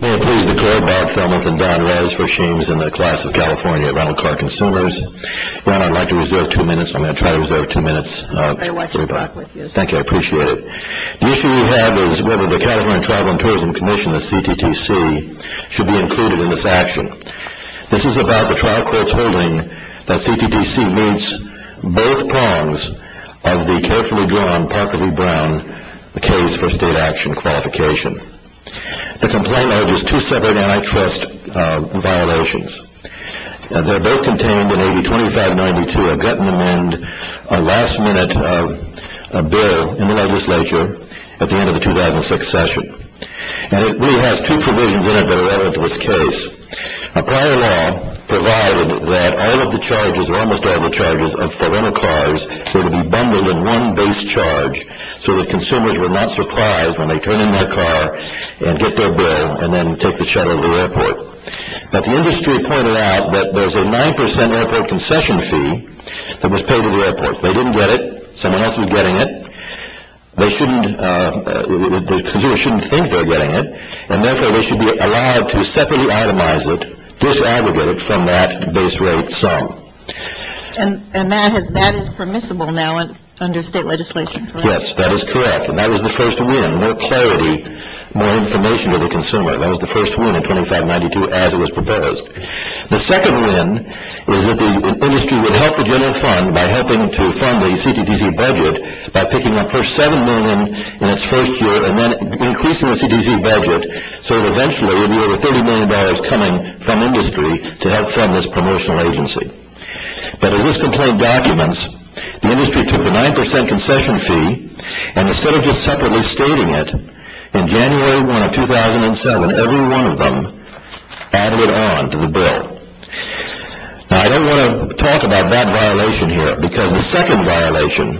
May I please declare Bob Thelmuth and Don Reyes for Shames and the Class of California at Ronald Clark Consumers. Don, I'd like to reserve two minutes. I'm going to try to reserve two minutes. May I wipe your back, please? Thank you. I appreciate it. The issue we have is whether the California Tribal and Tourism Commission, the CTTC, should be included in this action. This is about the trial court's holding that CTTC meets both prongs of the carefully drawn Parker v. Brown case for state action qualification. The complaint urges two separate antitrust violations. They're both contained in AB 2592, a gut-in-the-mind, last-minute bill in the legislature at the end of the 2006 session. And it really has two provisions in it that are relevant to this case. Prior law provided that all of the charges, or almost all of the charges, for rental cars were to be bundled in one base charge so that consumers were not surprised when they turn in their car and get their bill and then take the shuttle to the airport. But the industry pointed out that there's a 9 percent airport concession fee that was paid at the airport. They didn't get it. Someone else was getting it. The consumer shouldn't think they're getting it, and therefore they should be allowed to separately itemize it, disaggregate it from that base rate sum. And that is permissible now under state legislation, correct? Yes, that is correct, and that was the first win. More clarity, more information to the consumer. That was the first win in 2592 as it was proposed. The second win was that the industry would help the general fund by helping to fund the CTTC budget by picking up first $7 million in its first year and then increasing the CTTC budget so that eventually it would be over $30 million coming from industry to help fund this promotional agency. But as this complaint documents, the industry took the 9 percent concession fee and instead of just separately stating it, in January 1 of 2007, every one of them added it on to the bill. Now I don't want to talk about that violation here because the second violation,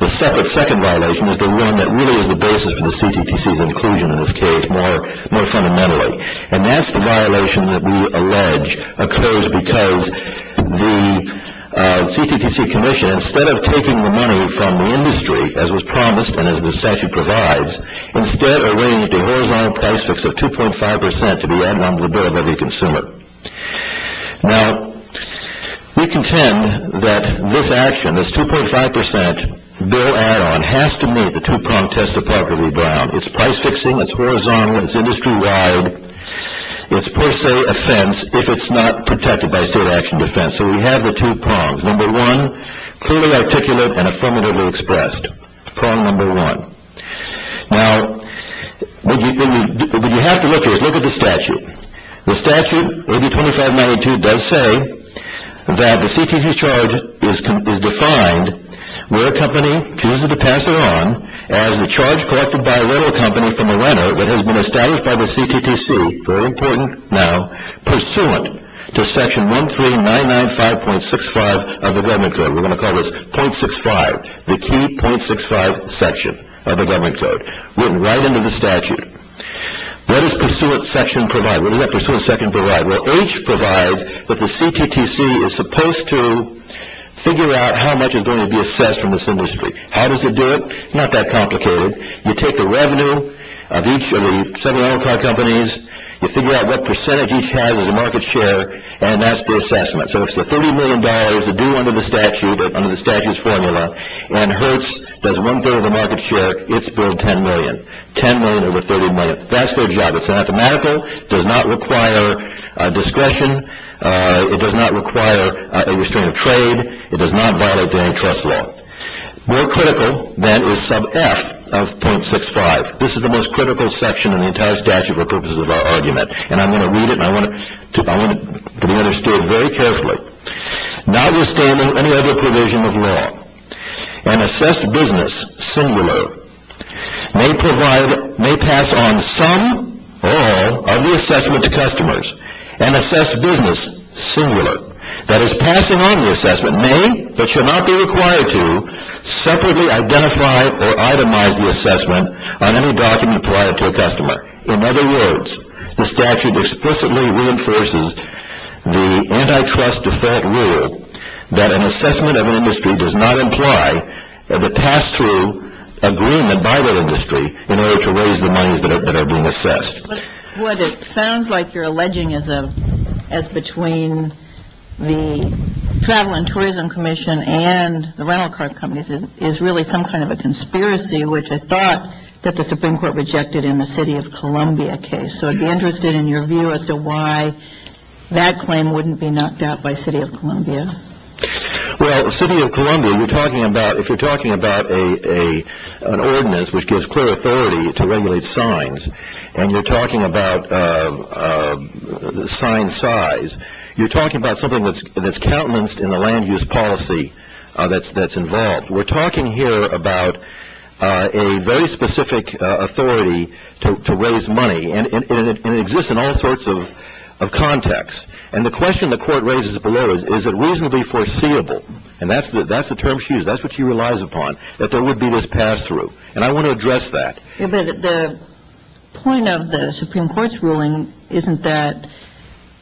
the second violation is the one that really is the basis for the CTTC's inclusion in this case more fundamentally. And that's the violation that we allege occurs because the CTTC commission, instead of taking the money from the industry as was promised and as the statute provides, instead arranged a horizontal price fix of 2.5 percent to be added on to the bill by the consumer. Now we contend that this action, this 2.5 percent bill add-on, has to meet the two-pronged test of property ground. It's price fixing, it's horizontal, it's industry-wide, it's per se offense if it's not protected by state action defense. So we have the two prongs. Number one, clearly articulate and affirmatively expressed. Prong number one. Now what you have to look at is look at the statute. The statute, AB 2592, does say that the CTTC's charge is defined where a company chooses to pass it on as the charge collected by a rental company from a renter that has been established by the CTTC, very important now, pursuant to section 13995.65 of the government code. We're going to call this .65, the key .65 section of the government code. Written right into the statute. What does pursuant section provide? What does that pursuant section provide? Well, H provides that the CTTC is supposed to figure out how much is going to be assessed from this industry. How does it do it? It's not that complicated. You take the revenue of each of the seven rental car companies. You figure out what percentage each has as a market share, and that's the assessment. So if it's $30 million to do under the statute, under the statute's formula, and Hertz does one-third of the market share, it's billed $10 million. $10 million over $30 million. That's their job. It's mathematical. It does not require discretion. It does not require a restraint of trade. It does not violate the antitrust law. More critical, then, is sub F of .65. This is the most critical section in the entire statute for purposes of our argument, and I'm going to read it, and I want it to be understood very carefully. Notwithstanding any other provision of law, an assessed business, singular, may pass on some or all of the assessment to customers. An assessed business, singular, that is passing on the assessment, may but should not be required to separately identify or itemize the assessment on any document prior to a customer. In other words, the statute explicitly reinforces the antitrust default rule that an assessment of an industry does not imply the pass-through agreement by that industry in order to raise the monies that are being assessed. What it sounds like you're alleging is between the Travel and Tourism Commission and the rental car companies is really some kind of a conspiracy, which I thought that the Supreme Court rejected in the City of Columbia case. So I'd be interested in your view as to why that claim wouldn't be knocked out by City of Columbia. Well, City of Columbia, if you're talking about an ordinance which gives clear authority to regulate signs and you're talking about sign size, you're talking about something that's countenanced in the land use policy that's involved. We're talking here about a very specific authority to raise money, and it exists in all sorts of contexts. And the question the Court raises below is, is it reasonably foreseeable, and that's the term she used, that's what she relies upon, that there would be this pass-through. And I want to address that. But the point of the Supreme Court's ruling isn't that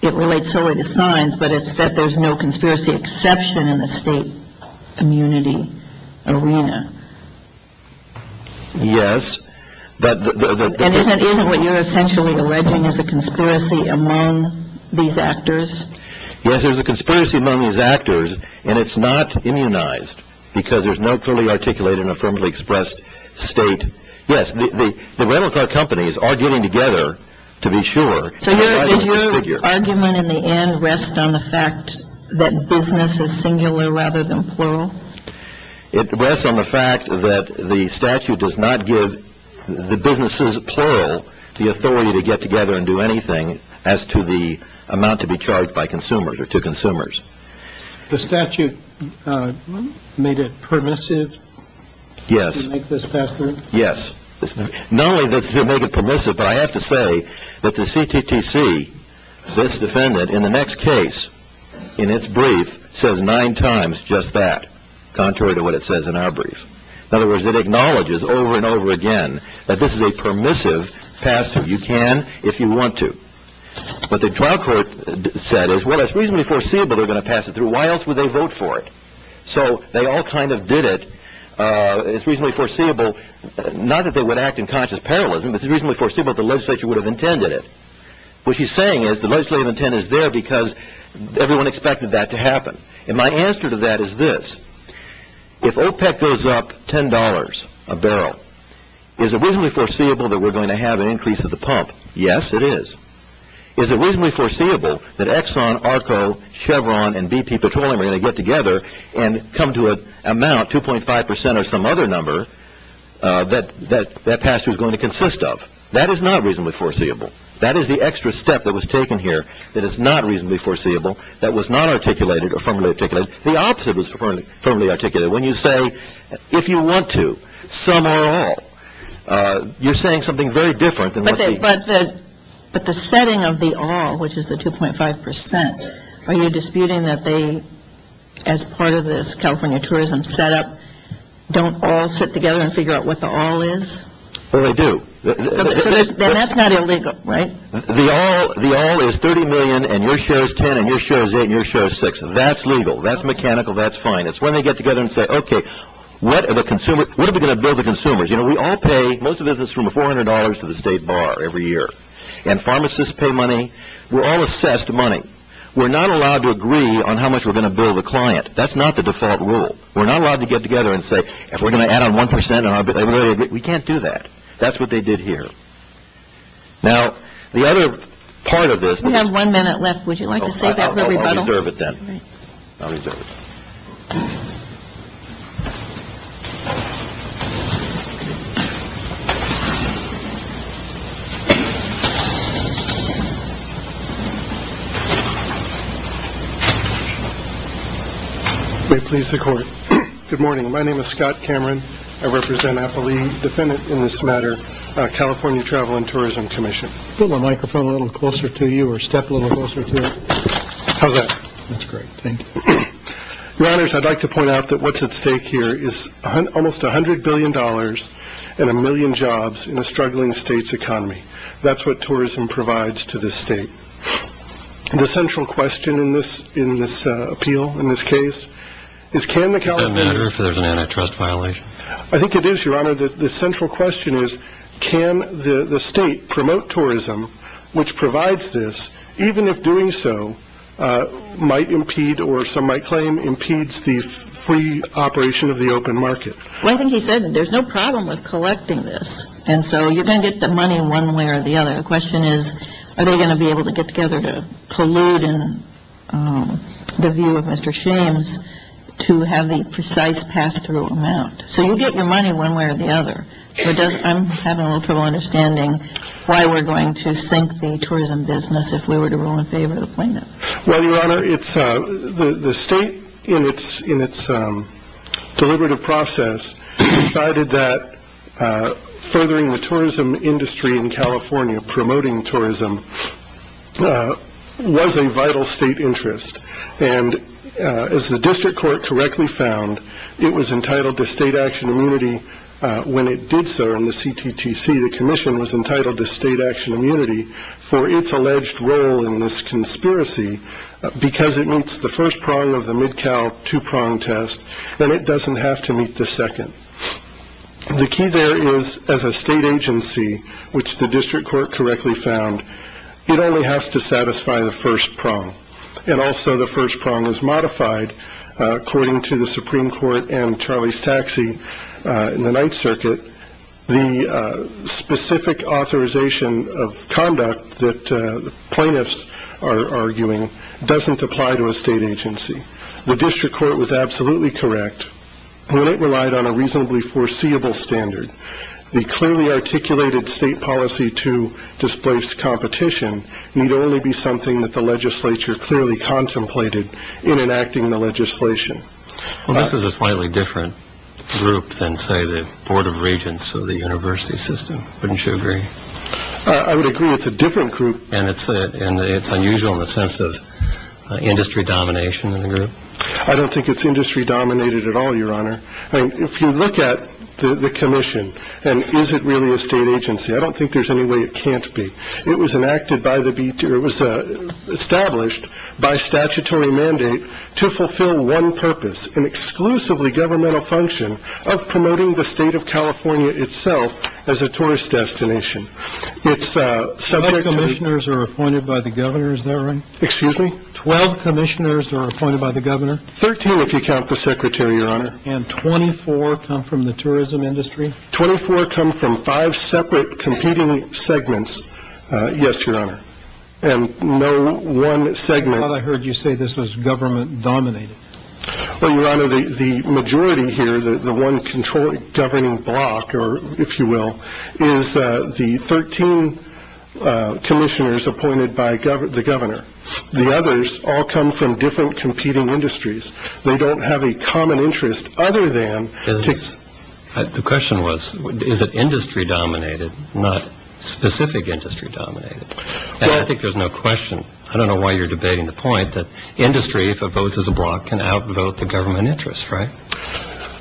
it relates solely to signs, but it's that there's no conspiracy exception in the state community arena. Yes. And isn't what you're essentially alleging is a conspiracy among these actors? Yes, there's a conspiracy among these actors, and it's not immunized because there's no clearly articulated and affirmatively expressed state. Yes, the rental car companies are getting together to be sure. So does your argument in the end rest on the fact that business is singular rather than plural? It rests on the fact that the statute does not give the businesses plural the authority to get together and do anything as to the amount to be charged by consumers or to consumers. The statute made it permissive? Yes. To make this pass-through? Yes. Not only does it make it permissive, but I have to say that the CTTC, this defendant, in the next case, in its brief, says nine times just that, contrary to what it says in our brief. In other words, it acknowledges over and over again that this is a permissive pass-through. You can if you want to. What the trial court said is, well, it's reasonably foreseeable they're going to pass it through. Why else would they vote for it? So they all kind of did it. It's reasonably foreseeable, not that they would act in conscious parallelism, but it's reasonably foreseeable that the legislature would have intended it. What she's saying is the legislative intent is there because everyone expected that to happen. And my answer to that is this. If OPEC goes up $10 a barrel, is it reasonably foreseeable that we're going to have an increase of the pump? Yes, it is. Is it reasonably foreseeable that Exxon, ARCO, Chevron, and BP Petroleum are going to get together and come to an amount, 2.5 percent or some other number, that that pass-through is going to consist of? That is not reasonably foreseeable. That is the extra step that was taken here that is not reasonably foreseeable, that was not articulated or firmly articulated. The opposite was firmly articulated. When you say, if you want to, some or all, you're saying something very different than what the- But the setting of the all, which is the 2.5 percent, are you disputing that they, as part of this California tourism setup, don't all sit together and figure out what the all is? Well, they do. Then that's not illegal, right? The all is $30 million and your share is $10 and your share is $8 and your share is $6. That's legal. That's mechanical. That's fine. You know, we all pay, most of it is from $400 to the state bar every year. And pharmacists pay money. We're all assessed money. We're not allowed to agree on how much we're going to bill the client. That's not the default rule. We're not allowed to get together and say, if we're going to add on 1 percent, we can't do that. That's what they did here. Now, the other part of this- We have one minute left. Would you like to say that? I'll reserve it then. I'll reserve it. May it please the court. Good morning. My name is Scott Cameron. I represent, I believe, defendant in this matter, California Travel and Tourism Commission. Put the microphone a little closer to you or step a little closer to it. How's that? That's great. Thank you. Your Honors, I'd like to point out that what's at stake here is almost $100 billion and a million jobs in a struggling state's economy. That's what tourism provides to this state. The central question in this appeal, in this case, is can the California- Does that matter if there's an antitrust violation? I think it is, Your Honor. The central question is can the state promote tourism, which provides this, even if doing so might impede or some might claim impedes the free operation of the open market? Well, I think he said there's no problem with collecting this. And so you're going to get the money one way or the other. The question is are they going to be able to get together to collude in the view of Mr. Shames to have the precise pass-through amount? So you get your money one way or the other. I'm having a little trouble understanding why we're going to sink the tourism business if we were to rule in favor of the plaintiff. Well, Your Honor, the state, in its deliberative process, decided that furthering the tourism industry in California, promoting tourism, was a vital state interest. And as the district court correctly found, it was entitled to state action immunity when it did so in the CTTC. The commission was entitled to state action immunity for its alleged role in this conspiracy because it meets the first prong of the Mid-Cal two-prong test and it doesn't have to meet the second. The key there is as a state agency, which the district court correctly found, it only has to satisfy the first prong. And also the first prong is modified according to the Supreme Court and Charlie's Taxi in the Ninth Circuit. The specific authorization of conduct that plaintiffs are arguing doesn't apply to a state agency. The district court was absolutely correct when it relied on a reasonably foreseeable standard. The clearly articulated state policy to displace competition need only be something that the legislature clearly contemplated in enacting the legislation. Well, this is a slightly different group than, say, the Board of Regents of the university system. Wouldn't you agree? I would agree it's a different group. And it's unusual in the sense of industry domination in the group? I don't think it's industry dominated at all, Your Honor. I mean, if you look at the commission and is it really a state agency? I don't think there's any way it can't be. It was enacted by the beach. It was established by statutory mandate to fulfill one purpose, an exclusively governmental function of promoting the state of California itself as a tourist destination. It's subject to commissioners are appointed by the governor's. Excuse me. Twelve commissioners are appointed by the governor. Thirteen, if you count the secretary, Your Honor. And 24 come from the tourism industry? 24 come from five separate competing segments. Yes, Your Honor. And no one segment. I thought I heard you say this was government dominated. Well, Your Honor, the majority here, the one controlling governing block, or if you will, is the 13 commissioners appointed by the governor. The others all come from different competing industries. They don't have a common interest other than. The question was, is it industry dominated, not specific industry dominated? I think there's no question. I don't know why you're debating the point that industry, if it votes as a block, can outvote the government interest, right?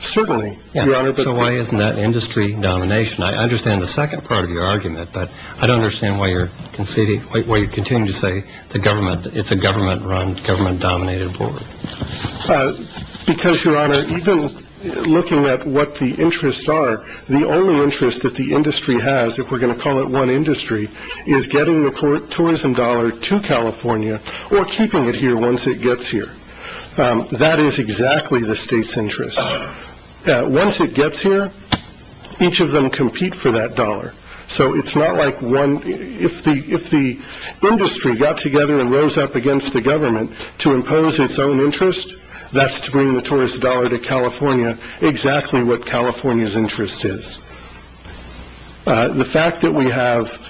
Certainly, Your Honor. So why isn't that industry domination? I understand the second part of your argument, but I don't understand why you're conceding, why you continue to say the government. It's a government run, government dominated board. Because, Your Honor, even looking at what the interests are, the only interest that the industry has, if we're going to call it one industry, is getting the tourism dollar to California or keeping it here once it gets here. That is exactly the state's interest. Once it gets here, each of them compete for that dollar. So it's not like one. If the industry got together and rose up against the government to impose its own interest, that's to bring the tourist dollar to California, exactly what California's interest is. The fact that we have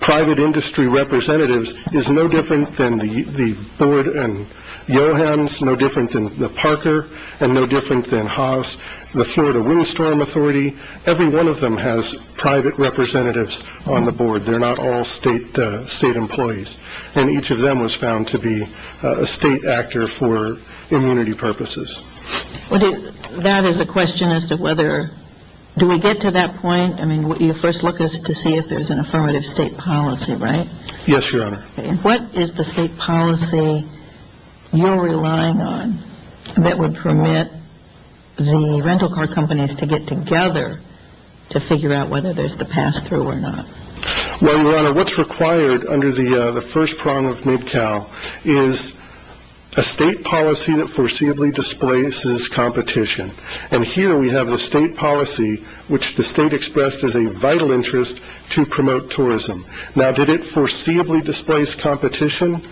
private industry representatives is no different than the board and Johans, no different than the Parker, and no different than Haas, the Florida Windstorm Authority. Every one of them has private representatives on the board. They're not all state employees. And each of them was found to be a state actor for immunity purposes. That is a question as to whether, do we get to that point? I mean, you first look to see if there's an affirmative state policy, right? Yes, Your Honor. What is the state policy you're relying on that would permit the rental car companies to get together to figure out whether there's the pass-through or not? Well, Your Honor, what's required under the first prong of Mid-Cal is a state policy that foreseeably displaces competition. And here we have the state policy, which the state expressed as a vital interest to promote tourism. Now, did it foreseeably displace competition?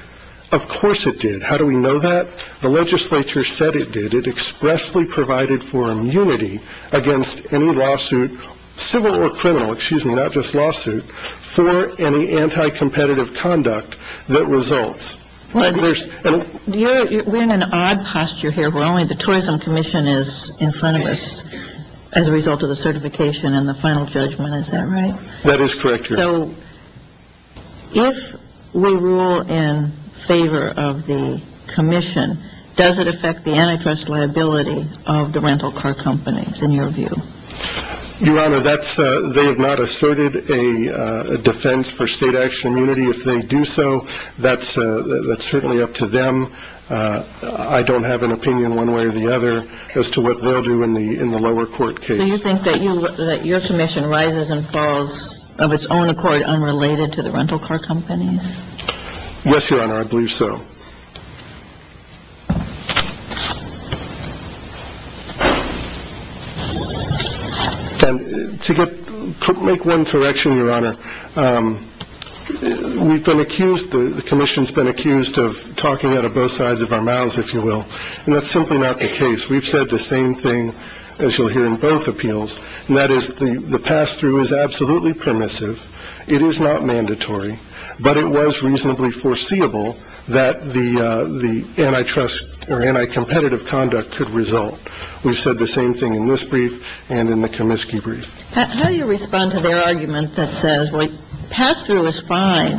Of course it did. How do we know that? The legislature said it did. It expressly provided for immunity against any lawsuit, civil or criminal, excuse me, not just lawsuit, for any anti-competitive conduct that results. We're in an odd posture here where only the Tourism Commission is in front of us as a result of the certification That is correct, Your Honor. So if we rule in favor of the commission, does it affect the antitrust liability of the rental car companies, in your view? Your Honor, they have not asserted a defense for state action immunity. If they do so, that's certainly up to them. I don't have an opinion one way or the other as to what they'll do in the lower court case. Do you think that your commission rises and falls of its own accord unrelated to the rental car companies? Yes, Your Honor, I believe so. To make one correction, Your Honor, we've been accused, the commission's been accused of talking out of both sides of our mouths, if you will. And that's simply not the case. We've said the same thing, as you'll hear in both appeals. And that is the pass-through is absolutely permissive. It is not mandatory. But it was reasonably foreseeable that the antitrust or anti-competitive conduct could result. We've said the same thing in this brief and in the Comiskey brief. How do you respond to their argument that says, well, pass-through is fine.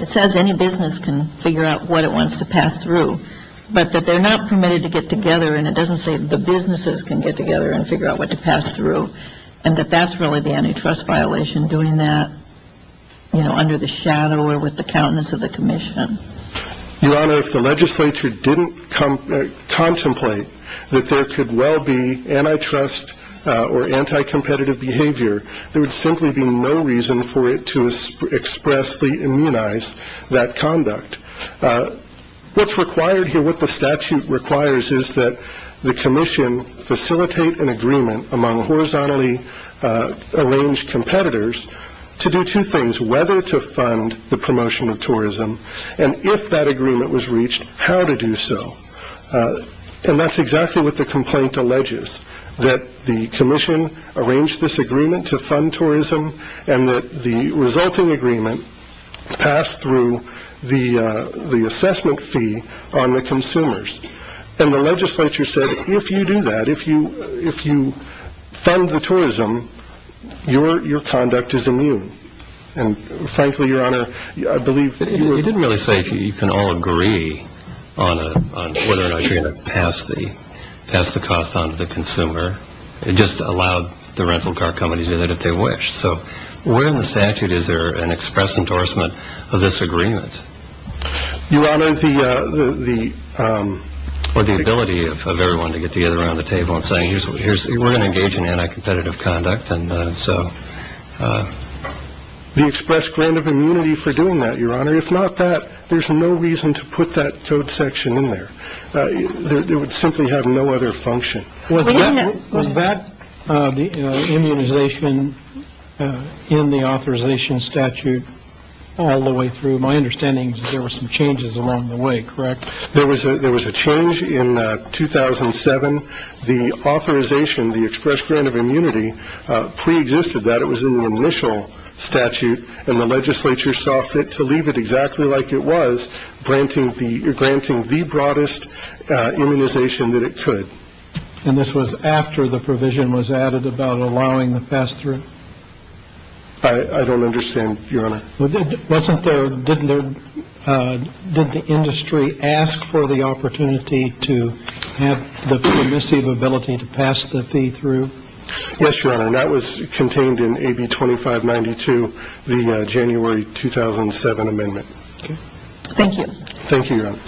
It says any business can figure out what it wants to pass through. But that they're not permitted to get together. And it doesn't say the businesses can get together and figure out what to pass through. And that that's really the antitrust violation, doing that, you know, under the shadow or with the countenance of the commission. Your Honor, if the legislature didn't contemplate that there could well be antitrust or anti-competitive behavior, there would simply be no reason for it to expressly immunize that conduct. What's required here, what the statute requires is that the commission facilitate an agreement among horizontally arranged competitors to do two things, whether to fund the promotion of tourism. And if that agreement was reached, how to do so. And that's exactly what the complaint alleges, that the commission arranged this agreement to fund tourism. And that the resulting agreement passed through the assessment fee on the consumers. And the legislature said, if you do that, if you fund the tourism, your conduct is immune. And frankly, Your Honor, I believe that you were... You didn't really say you can all agree on whether or not you're going to pass the cost on to the consumer. It just allowed the rental car companies to do that if they wish. So where in the statute is there an express endorsement of this agreement? Your Honor, the... Or the ability of everyone to get together around the table and say, we're going to engage in anti-competitive conduct. And so... The express grant of immunity for doing that, Your Honor. If not that, there's no reason to put that code section in there. It would simply have no other function. Was that the immunization in the authorization statute all the way through? My understanding is there were some changes along the way, correct? There was a change in 2007. The authorization, the express grant of immunity, pre-existed that. It was in the initial statute. And the legislature saw fit to leave it exactly like it was, granting the broadest immunization that it could. And this was after the provision was added about allowing the pass-through? I don't understand, Your Honor. Wasn't there... Did the industry ask for the opportunity to have the permissive ability to pass the fee through? Yes, Your Honor. And that was contained in AB 2592, the January 2007 amendment. Okay. Thank you. Thank you, Your Honor.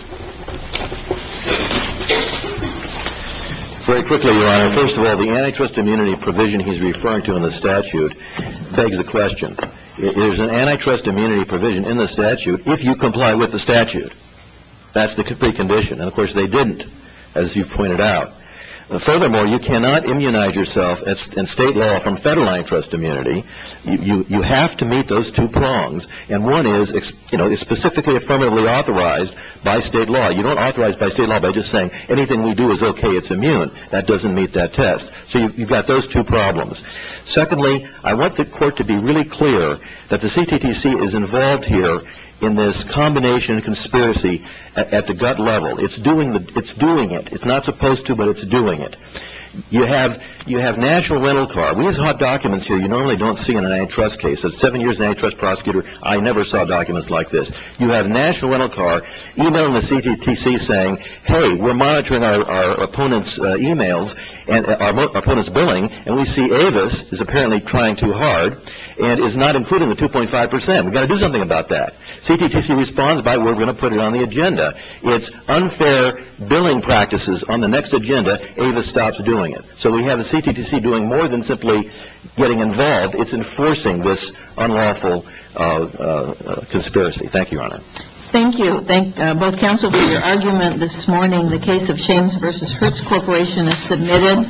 Very quickly, Your Honor. First of all, the antitrust immunity provision he's referring to in the statute begs a question. There's an antitrust immunity provision in the statute if you comply with the statute. That's the precondition. And, of course, they didn't, as you pointed out. Furthermore, you cannot immunize yourself in state law from federal antitrust immunity. You have to meet those two prongs. And one is specifically affirmatively authorized by state law. You don't authorize by state law by just saying anything we do is okay, it's immune. That doesn't meet that test. So you've got those two problems. Secondly, I want the court to be really clear that the CTTC is involved here in this combination conspiracy at the gut level. It's doing it. It's not supposed to, but it's doing it. You have national rental car. We have hot documents here you normally don't see in an antitrust case. I was a seven-year antitrust prosecutor. I never saw documents like this. You have national rental car emailing the CTTC saying, hey, we're monitoring our opponent's emails and our opponent's billing, and we see Avis is apparently trying too hard and is not including the 2.5 percent. We've got to do something about that. CTTC responds by we're going to put it on the agenda. It's unfair billing practices on the next agenda. Avis stops doing it. So we have a CTTC doing more than simply getting involved. It's enforcing this unlawful conspiracy. Thank you, Your Honor. Thank you. Thank both counsel for your argument this morning. The case of Shames v. Hertz Corporation is submitted.